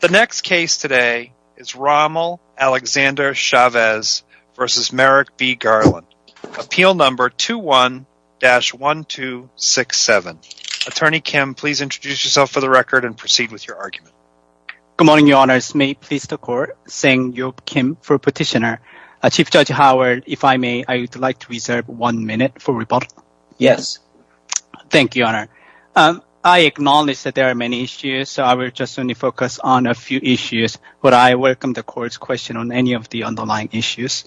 The next case today is Rommel Alexander Chavez v. Merrick B. Garland, Appeal No. 21-1267. Attorney Kim, please introduce yourself for the record and proceed with your argument. Good morning, Your Honors. May it please the Court, saying Yob Kim for Petitioner. Chief Judge Howard, if I may, I would like to reserve one minute for rebuttal. Yes. Thank you, Your Honor. I acknowledge that there are many issues, so I will just only focus on a few issues, but I welcome the Court's question on any of the underlying issues.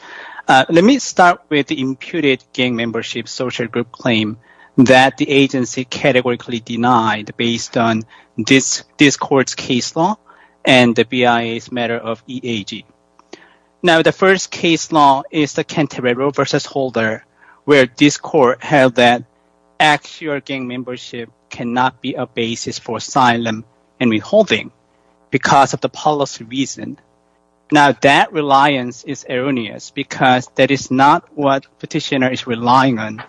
Let me start with the imputed gang membership social group claim that the agency categorically denied based on this Court's case law and the BIA's matter of EAG. Now, the first case law is the Canterbury Roe v. Holder, where this Court held that actual gang membership cannot be a basis for asylum and withholding because of the policy reason. Now, that reliance is erroneous because that is not what Petitioner is relying on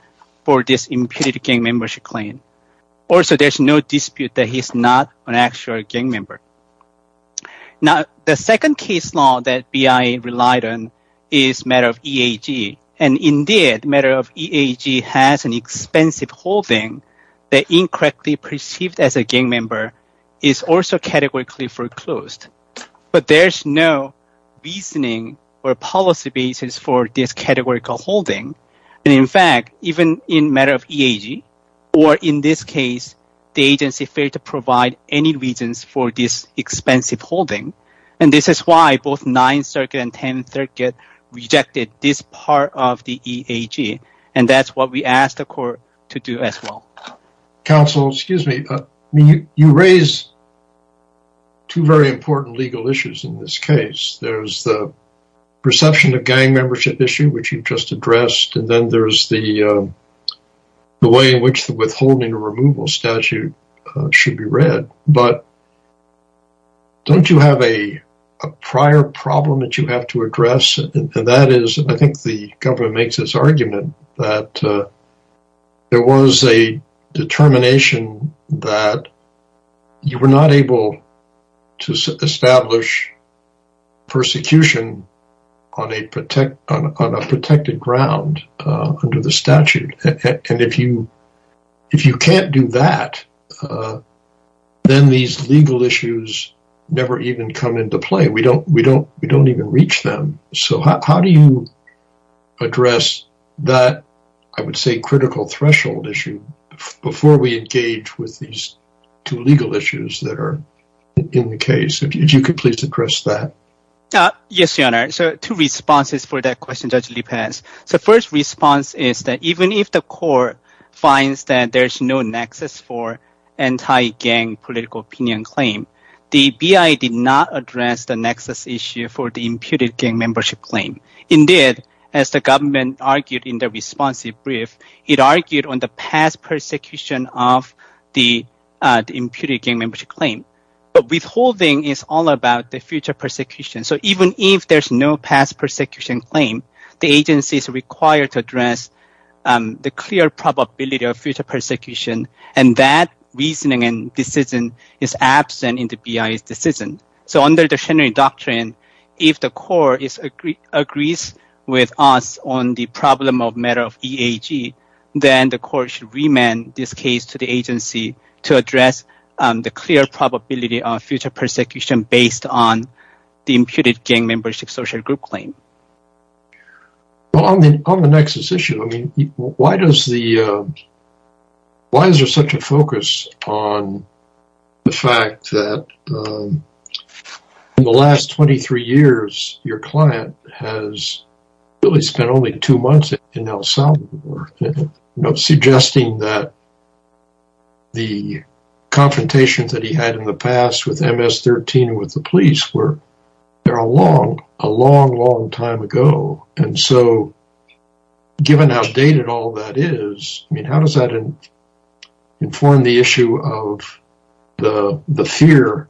for this imputed gang membership claim. Also, there's no dispute that he's not an actual gang member. Now, the second case law that BIA relied on is matter of EAG, and indeed matter of EAG has an expensive holding that incorrectly perceived as a gang member is also categorically foreclosed. But there's no reasoning or policy basis for this categorical holding, and in fact, even in matter of EAG, or in this case, the agency failed to provide any reasons for this expensive holding. And this is why both Ninth Circuit and Tenth Circuit rejected this part of the EAG, and that's what we asked the Court to do as well. Counsel, excuse me, you raise two very important legal issues in this case. There's the perception of gang membership issue, which you've just addressed, and then there's the way in which the withholding removal statute should be read. But don't you have a prior problem that you have to address? And that is, I think the government makes this argument that there was a determination that you were not able to establish persecution on a protected ground under the statute. And if you can't do that, then these legal issues never even come into play. We don't even reach them. So how do you address that, I would say, critical threshold issue before we engage with these two legal issues that are in the case? If you could please address that. Yes, Your Honor. So two responses for that question, Judge Lee Pence. The first response is that even if the Court finds that there's no nexus for anti-gang political opinion claim, the BIA did not address the nexus issue for the imputed gang membership claim. Indeed, as the government argued in the responsive brief, it argued on the past persecution of the imputed gang membership claim. But withholding is all about the future persecution. So even if there's no past persecution claim, the agency is required to address the clear probability of future persecution, and that reasoning and decision is absent in the BIA's decision. So under the Schennery Doctrine, if the Court agrees with us on the problem of matter of EAG, then the Court should remand this case to the agency to address the clear probability of future persecution based on the imputed gang membership social group claim. Well, on the nexus issue, I mean, why is there such a focus on the fact that in the last 23 years, your client has really spent only two months in El Salvador? Suggesting that the confrontations that he had in the past with MS-13 and with the police were a long, long time ago. And so given how dated all that is, I mean, how does that inform the issue of the fear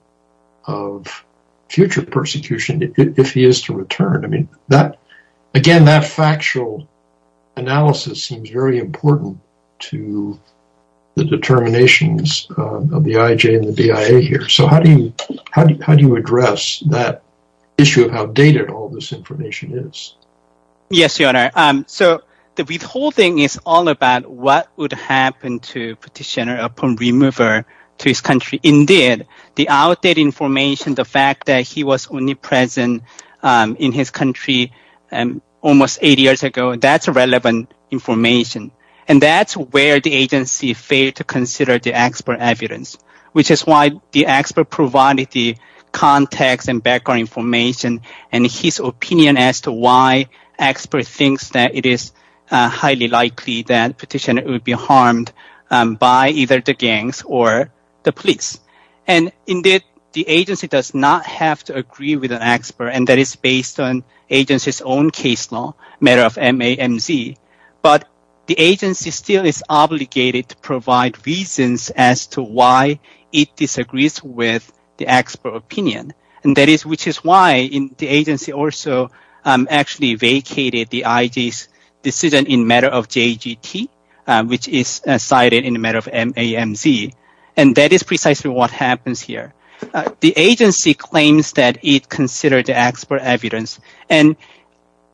of future persecution if he is to return? I mean, again, that factual analysis seems very important to the determinations of the IJ and the BIA here. So how do you address that issue of how dated all this information is? Yes, Your Honor. So the withholding is all about what would happen to petitioner upon remover to his country. Indeed, the outdated information, the fact that he was only present in his country almost 80 years ago, that's relevant information. And that's where the agency failed to consider the expert evidence, which is why the expert provided the context and background information and his opinion as to why expert thinks that it is highly likely that petitioner would be harmed by either the gangs or the police. And indeed, the agency does not have to agree with an expert, and that is based on agency's own case law, matter of MAMZ. But the agency still is obligated to provide reasons as to why it disagrees with the expert opinion. And that is which is why the agency also actually vacated the IJ's decision in matter of JGT, which is cited in the matter of MAMZ. And that is precisely what happens here. The agency claims that it considered the expert evidence, and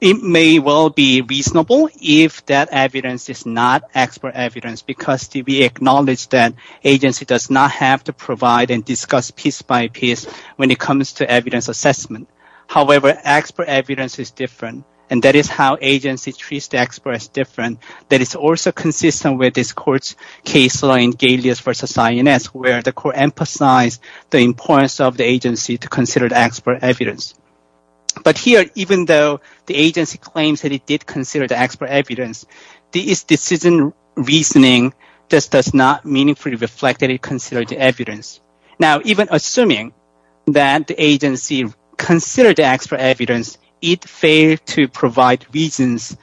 it may well be reasonable if that evidence is not expert evidence because we acknowledge that agency does not have to provide and discuss piece by piece when it comes to evidence assessment. However, expert evidence is different, and that is how agency treats the expert as different. That is also consistent with this court's case law in Galeas v. Sionet, where the court emphasized the importance of the agency to consider the expert evidence. But here, even though the agency claims that it did consider the expert evidence, this decision reasoning just does not meaningfully reflect that it considered the evidence. Now, even assuming that the agency considered the expert evidence, it failed to provide reasons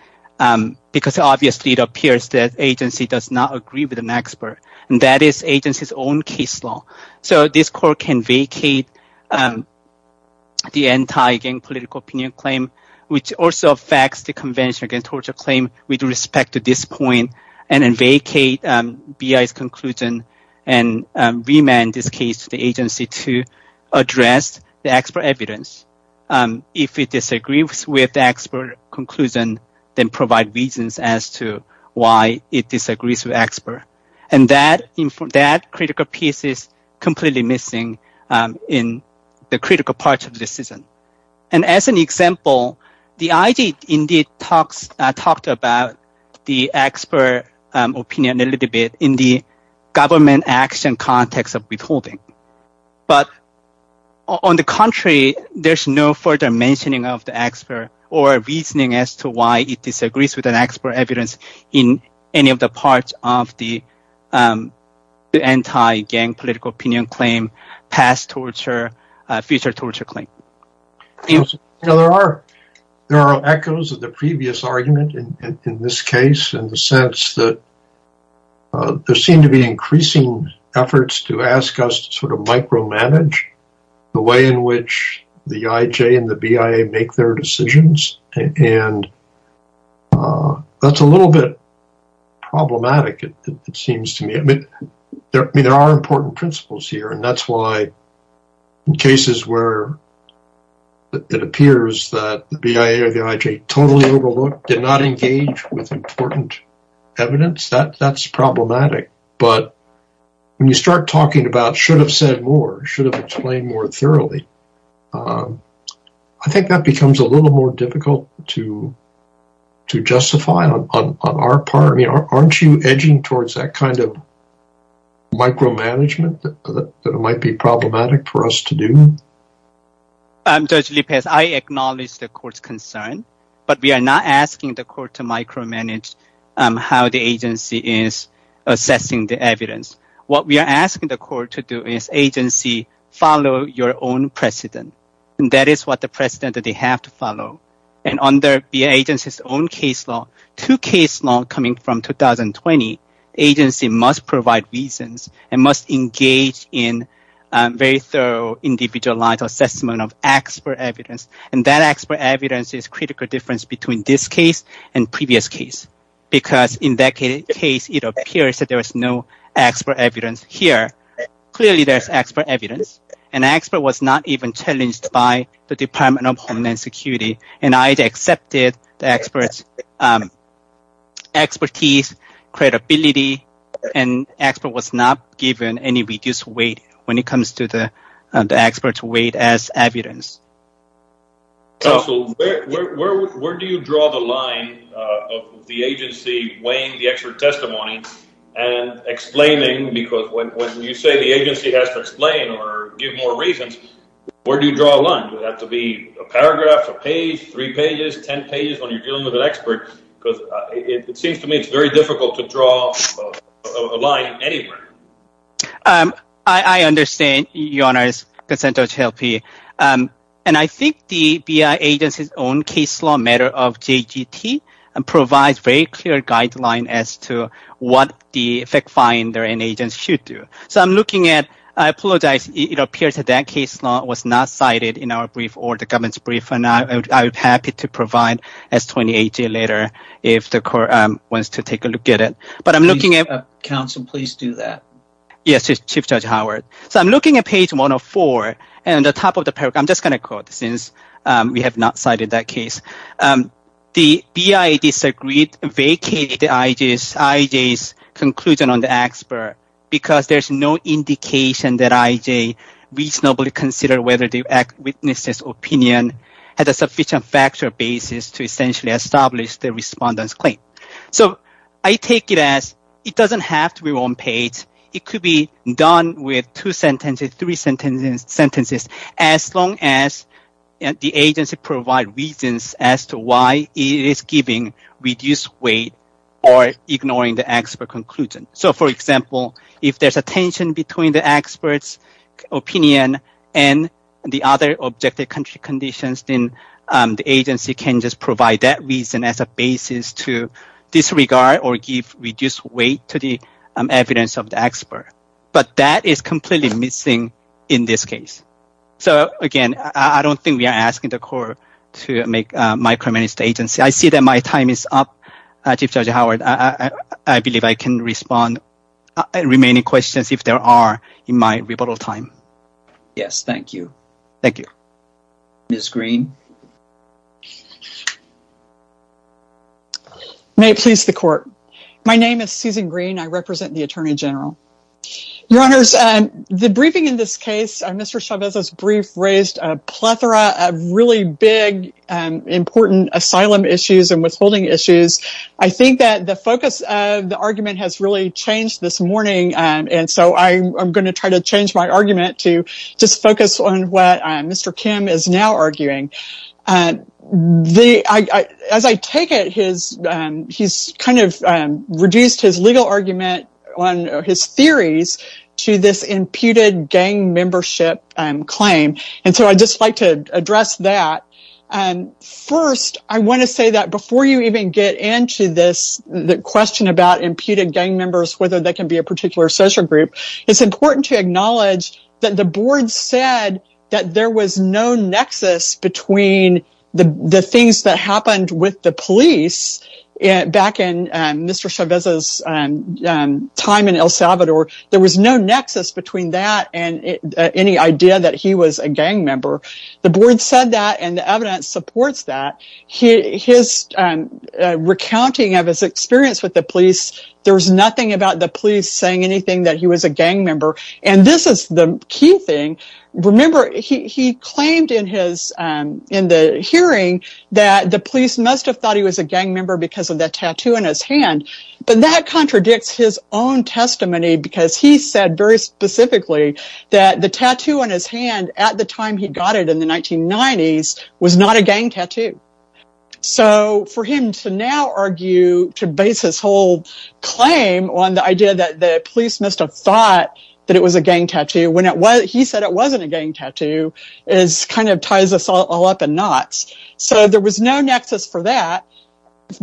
because obviously it appears that agency does not agree with an expert, and that is agency's own case law. So this court can vacate the anti-gang political opinion claim, which also affects the Convention Against Torture claim with respect to this point, and then vacate BI's conclusion and remand this case to the agency to address the expert evidence. If it disagrees with the expert conclusion, then provide reasons as to why it disagrees with expert. And that critical piece is completely missing in the critical parts of the decision. And as an example, the IG indeed talked about the expert opinion a little bit in the government action context of withholding. But on the contrary, there's no further mentioning of the expert or reasoning as to why it disagrees with an expert evidence in any of the parts of the anti-gang political opinion claim, past torture, future torture claim. There are echoes of the previous argument in this case in the sense that there seem to be increasing efforts to ask us to sort of micromanage the way in which the IJ and the BIA make their decisions. And that's a little bit problematic, it seems to me. I mean, there are important principles here, and that's why in cases where it appears that the BIA or the IJ totally overlooked, did not engage with important evidence, that's problematic. But when you start talking about should have said more, should have explained more thoroughly, I think that becomes a little more difficult to justify on our part. Aren't you edging towards that kind of micromanagement that might be problematic for us to do? Judge Lopez, I acknowledge the court's concern, but we are not asking the court to micromanage how the agency is assessing the evidence. What we are asking the court to do is agency follow your own precedent, and that is what the precedent that they have to follow. And under the agency's own case law, two case law coming from 2020, agency must provide reasons and must engage in very thorough individualized assessment of expert evidence. And that expert evidence is critical difference between this case and previous case, because in that case, it appears that there is no expert evidence here. Clearly, there's expert evidence, and expert was not even challenged by the Department of Homeland Security, and I accepted the expert's expertise, credibility, and expert was not given any reduced weight when it comes to the expert's weight as evidence. Counsel, where do you draw the line of the agency weighing the expert testimony and explaining, because when you say the agency has to explain or give more reasons, where do you draw a line? Does it have to be a paragraph, a page, three pages, ten pages when you're dealing with an expert? Because it seems to me it's very difficult to draw a line anywhere. I understand, Your Honor, and I think the BIA agency's own case law matter of JGT provides very clear guidelines as to what the fact finder and agents should do. So I'm looking at – I apologize, it appears that that case law was not cited in our brief or the government's brief, and I would be happy to provide S28J later if the court wants to take a look at it. But I'm looking at – Counsel, please do that. Yes, Chief Judge Howard. So I'm looking at page 104, and at the top of the paragraph – I'm just going to quote, since we have not cited that case. The BIA disagreed, vacated IJ's conclusion on the expert because there's no indication that IJ reasonably considered whether the witness's opinion had a sufficient factual basis to essentially establish the respondent's claim. So I take it as it doesn't have to be one page. It could be done with two sentences, three sentences, as long as the agency provides reasons as to why it is giving reduced weight or ignoring the expert conclusion. So, for example, if there's a tension between the expert's opinion and the other objective country conditions, then the agency can just provide that reason as a basis to disregard or give reduced weight to the evidence of the expert. But that is completely missing in this case. So, again, I don't think we are asking the court to micromanage the agency. I see that my time is up, Chief Judge Howard. I believe I can respond to remaining questions if there are in my rebuttal time. Yes, thank you. Thank you. Ms. Green. May it please the Court. My name is Susan Green. I represent the Attorney General. Your Honors, the briefing in this case, Mr. Chavez's brief, raised a plethora of really big, important asylum issues and withholding issues. I think that the focus of the argument has really changed this morning, and so I'm going to try to change my argument to just focus on what Mr. Kim is now arguing. As I take it, he's kind of reduced his legal argument on his theories to this imputed gang membership claim, and so I'd just like to address that. First, I want to say that before you even get into this question about imputed gang members, whether they can be a particular social group, it's important to acknowledge that the Board said that there was no nexus between the things that happened with the police back in Mr. Chavez's time in El Salvador. There was no nexus between that and any idea that he was a gang member. The Board said that, and the evidence supports that. His recounting of his experience with the police, there was nothing about the police saying anything that he was a gang member, and this is the key thing. Remember, he claimed in the hearing that the police must have thought he was a gang member because of the tattoo on his hand, but that contradicts his own testimony because he said very specifically that the tattoo on his hand at the time he got it in the 1990s was not a gang tattoo. So for him to now argue, to base his whole claim on the idea that the police must have thought that it was a gang tattoo when he said it wasn't a gang tattoo, kind of ties us all up in knots. So there was no nexus for that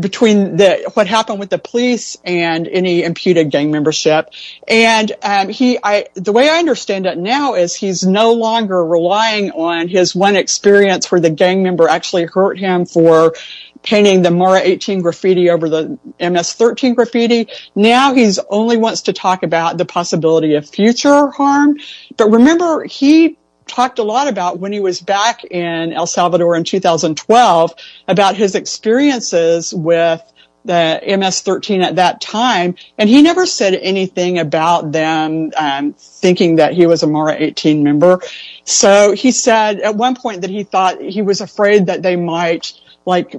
between what happened with the police and any imputed gang membership. The way I understand it now is he's no longer relying on his one experience where the gang member actually hurt him for painting the Mara 18 graffiti over the MS 13 graffiti. Now he only wants to talk about the possibility of future harm. But remember he talked a lot about when he was back in El Salvador in 2012 about his experiences with the MS 13 at that time, and he never said anything about them thinking that he was a Mara 18 member. So he said at one point that he thought he was afraid that they might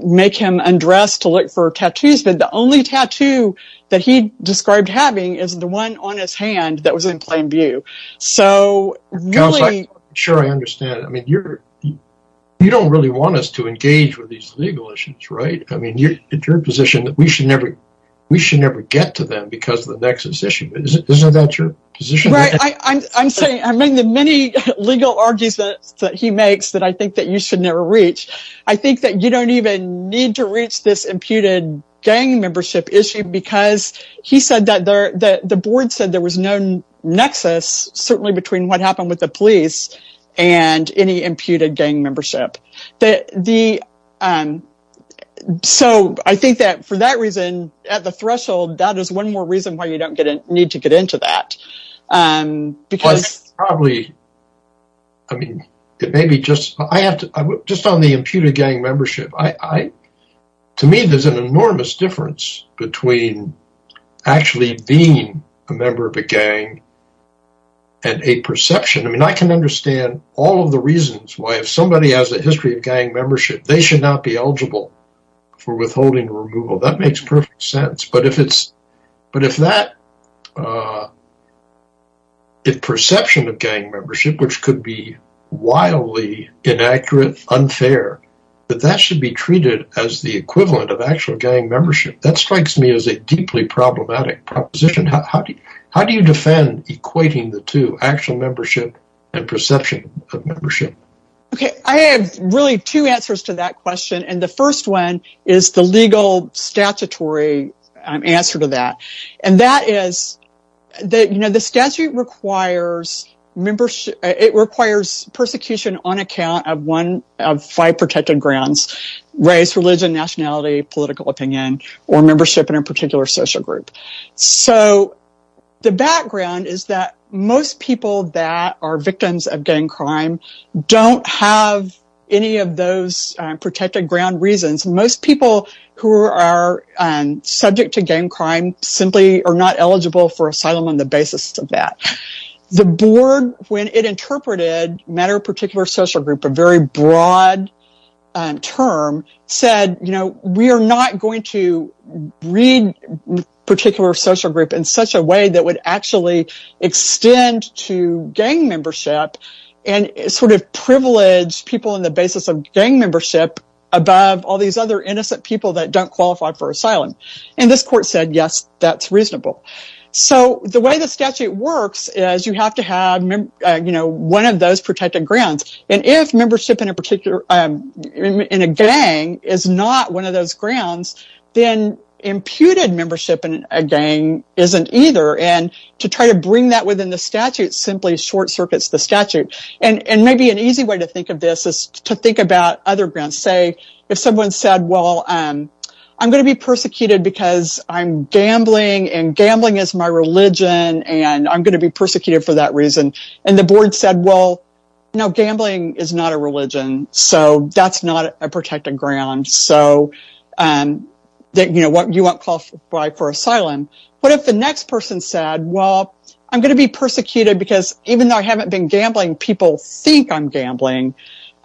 make him undress to look for tattoos, but the only tattoo that he described having is the one on his hand that was in plain view. I'm sure I understand. I mean you don't really want us to engage with these legal issues, right? I mean you're in a position that we should never get to them because of the nexus issue. Isn't that your position? Right, I'm saying the many legal arguments that he makes that I think that you should never reach, I think that you don't even need to reach this imputed gang membership issue because he said that the board said there was no nexus, certainly between what happened with the police and any imputed gang membership. So I think that for that reason, at the threshold, that is one more reason why you don't need to get into that. Well it's probably, I mean it may be just, just on the imputed gang membership, to me there's an enormous difference between actually being a member of a gang and a perception. I mean I can understand all of the reasons why if somebody has a history of gang membership, they should not be eligible for withholding removal. That makes perfect sense. But if it's, but if that, if perception of gang membership, which could be wildly inaccurate, unfair, that that should be treated as the equivalent of actual gang membership, that strikes me as a deeply problematic proposition. How do you defend equating the two, actual membership and perception of membership? Okay, I have really two answers to that question, and the first one is the legal statutory answer to that. And that is that, you know, the statute requires membership, it requires persecution on account of one, of five protected grounds, race, religion, nationality, political opinion, or membership in a particular social group. So the background is that most people that are victims of gang crime don't have any of those protected ground reasons. Most people who are subject to gang crime simply are not eligible for asylum on the basis of that. The board, when it interpreted matter of particular social group, a very broad term, said, you know, we are not going to read particular social group in such a way that would actually extend to gang membership and sort of privilege people on the basis of gang membership above all these other innocent people that don't qualify for asylum. And this court said, yes, that's reasonable. So the way the statute works is you have to have, you know, one of those protected grounds, and if membership in a particular, in a gang is not one of those grounds, then imputed membership in a gang isn't either, and to try to bring that within the statute simply short circuits the statute. And maybe an easy way to think of this is to think about other grounds. Say if someone said, well, I'm going to be persecuted because I'm gambling, and gambling is my religion, and I'm going to be persecuted for that reason, and the board said, well, no, gambling is not a religion, so that's not a protected ground, so you won't qualify for asylum. What if the next person said, well, I'm going to be persecuted because even though I haven't been gambling, people think I'm gambling?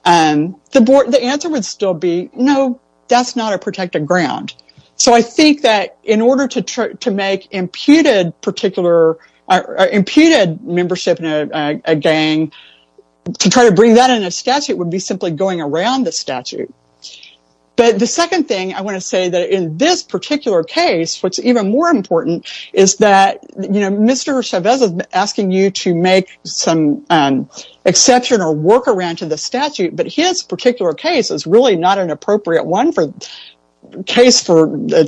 The answer would still be, no, that's not a protected ground. So I think that in order to make imputed membership in a gang, to try to bring that in a statute would be simply going around the statute. But the second thing I want to say that in this particular case, what's even more important is that, you know, Mr. Chavez is asking you to make some exception or workaround to the statute, but his particular case is really not an appropriate one for the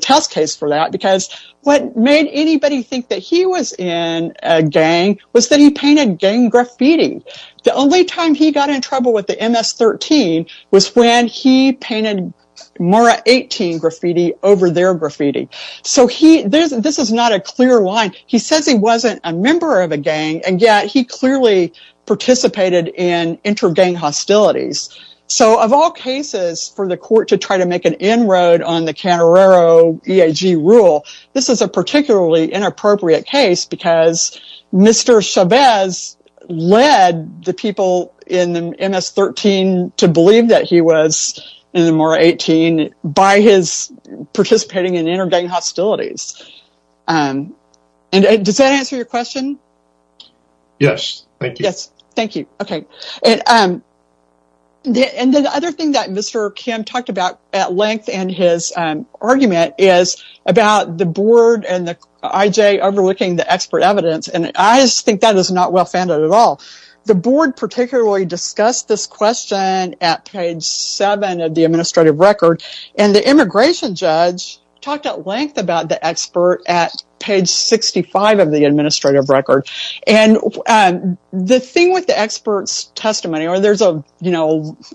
test case for that, because what made anybody think that he was in a gang was that he painted gang graffiti. The only time he got in trouble with the MS-13 was when he painted MARA-18 graffiti over their graffiti. So this is not a clear line. He says he wasn't a member of a gang, and yet he clearly participated in inter-gang hostilities. So of all cases for the court to try to make an inroad on the Canarrero EAG rule, this is a particularly inappropriate case because Mr. Chavez led the people in the MS-13 to believe that he was in the MARA-18 by his participating in inter-gang hostilities. And does that answer your question? Yes, thank you. Yes, thank you. Okay. And the other thing that Mr. Kim talked about at length in his argument is about the board and the IJ overlooking the expert evidence, and I just think that is not well-founded at all. The board particularly discussed this question at page 7 of the administrative record, and the immigration judge talked at length about the expert at page 65 of the administrative record. And the thing with the expert's testimony, or there's a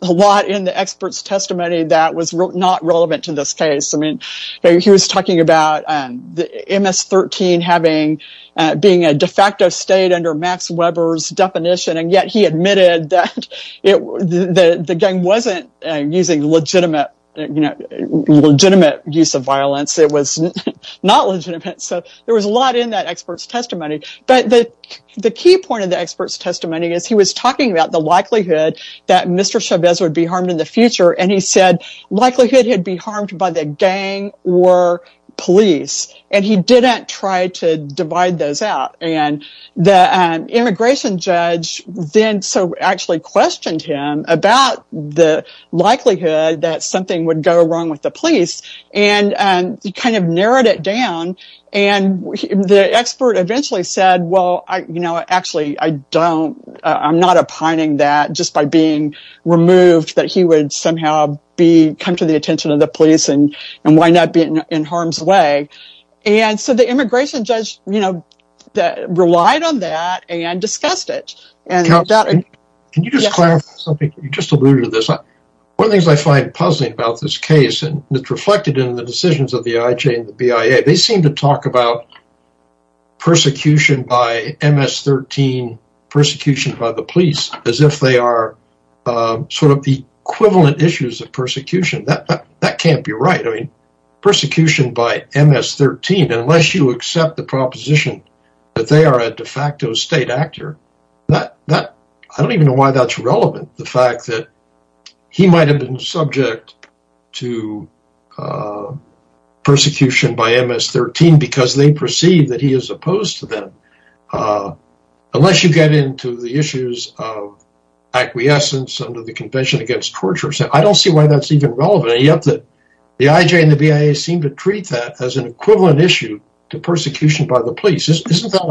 lot in the expert's testimony that was not relevant to this case. I mean, he was talking about the MS-13 being a de facto state under Max Weber's definition, and yet he admitted that the gang wasn't using legitimate use of violence. It was not legitimate. So there was a lot in that expert's testimony. But the key point of the expert's testimony is he was talking about the likelihood that Mr. Chavez would be harmed in the future, and he said likelihood he'd be harmed by the gang or police, and he didn't try to divide those out. And the immigration judge then actually questioned him about the likelihood that something would go wrong with the police, and he kind of narrowed it down, and the expert eventually said, well, you know, actually, I'm not opining that just by being removed that he would somehow come to the attention of the police and wind up being in harm's way. And so the immigration judge relied on that and discussed it. Can you just clarify something? You just alluded to this. One of the things I find puzzling about this case, and it's reflected in the decisions of the IJ and the BIA, they seem to talk about persecution by MS-13, persecution by the police, as if they are sort of the equivalent issues of persecution. That can't be right. I mean, persecution by MS-13, unless you accept the proposition that they are a de facto state actor, I don't even know why that's relevant, the fact that he might have been subject to persecution by MS-13 because they perceive that he is opposed to them. Unless you get into the issues of acquiescence under the Convention Against Torture, I don't see why that's even relevant, and yet the IJ and the BIA seem to treat that as an equivalent issue to persecution by the police. Isn't that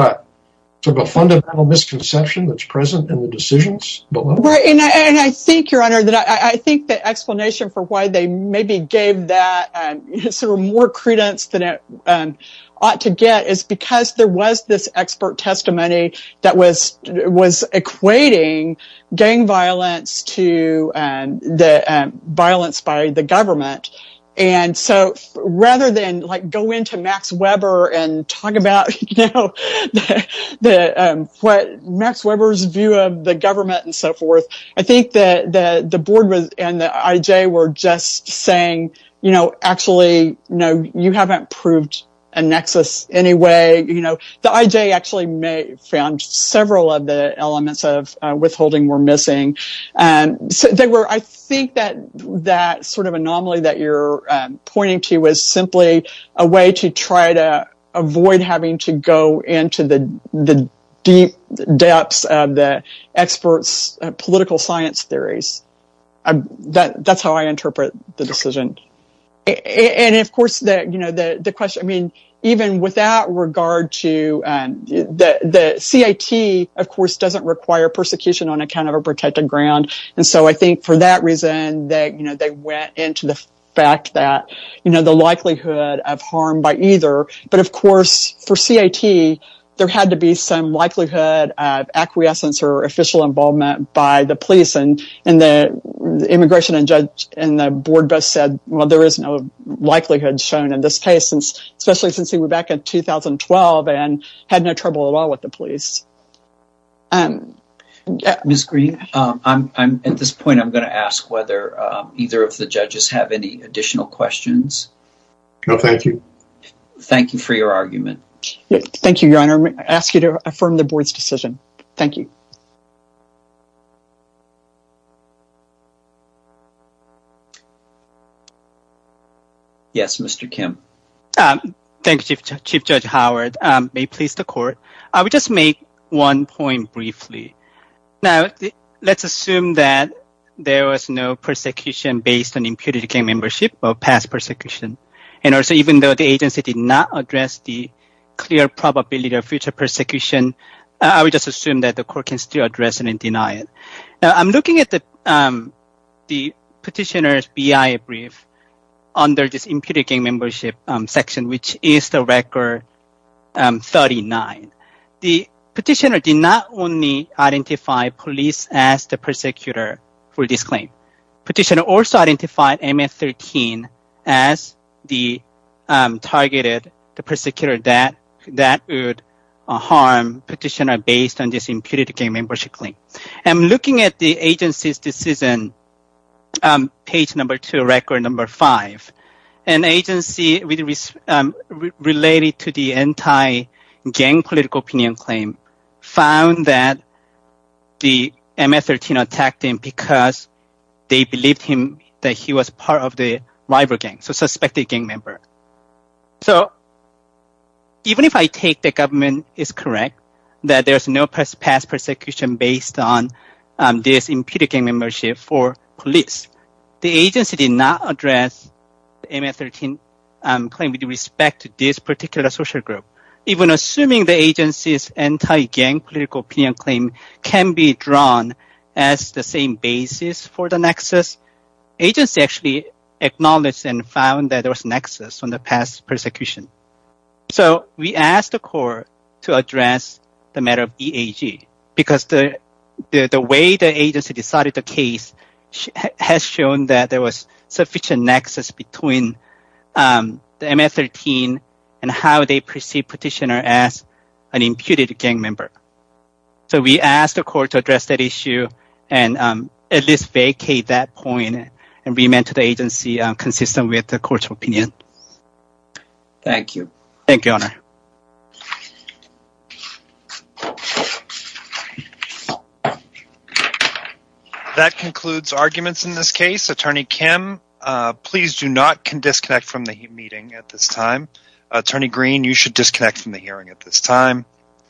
a fundamental misconception that's present in the decisions? Right, and I think, Your Honor, that I think the explanation for why they maybe gave that sort of more credence than it ought to get is because there was this expert testimony that was equating gang violence to the violence by the government. And so rather than go into Max Weber and talk about Max Weber's view of the government and so forth, I think that the board and the IJ were just saying, you know, actually, you haven't proved a nexus anyway. The IJ actually found several of the elements of withholding were missing. I think that sort of anomaly that you're pointing to was simply a way to try to avoid having to go into the deep depths of the experts' political science theories. That's how I interpret the decision. And, of course, even with that regard, the CIT, of course, doesn't require persecution on account of a protected ground. And so I think for that reason, they went into the fact that the likelihood of harm by either. But, of course, for CIT, there had to be some likelihood of acquiescence or official involvement by the police. And the immigration judge and the board both said, well, there is no likelihood shown in this case, especially since he was back in 2012 and had no trouble at all with the police. Ms. Green, at this point, I'm going to ask whether either of the judges have any additional questions. No, thank you. Thank you for your argument. Thank you, Your Honor. I ask you to affirm the board's decision. Thank you. Yes, Mr. Kim. Thank you, Chief Judge Howard. May it please the court. I would just make one point briefly. Now, let's assume that there was no persecution based on impunity gang membership or past persecution. And also, even though the agency did not address the clear probability of future persecution, I would just assume that the court can still address it and deny it. Now, I'm looking at the petitioner's BIA brief under this impunity gang membership section, which is the record 39. The petitioner did not only identify police as the persecutor for this claim. The petitioner also identified MS-13 as the targeted persecutor that would harm petitioner based on this impunity gang membership claim. I'm looking at the agency's decision, page number two, record number five. An agency related to the anti-gang political opinion claim found that the MS-13 attacked him because they believed him that he was part of the rival gang, so suspected gang member. So, even if I take the government is correct that there's no past persecution based on this impunity gang membership for police, the agency did not address the MS-13 claim with respect to this particular social group. Even assuming the agency's anti-gang political opinion claim can be drawn as the same basis for the nexus, agency actually acknowledged and found that there was a nexus on the past persecution. So, we asked the court to address the matter of BAG because the way the agency decided the case has shown that there was sufficient nexus between the MS-13 and how they perceive petitioner as an imputed gang member. So, we asked the court to address that issue and at least vacate that point and remand to the agency consistent with the court's opinion. Thank you. Thank you, Your Honor. That concludes arguments in this case. Attorney Kim, please do not disconnect from the meeting at this time. Attorney Green, you should disconnect from the hearing at this time.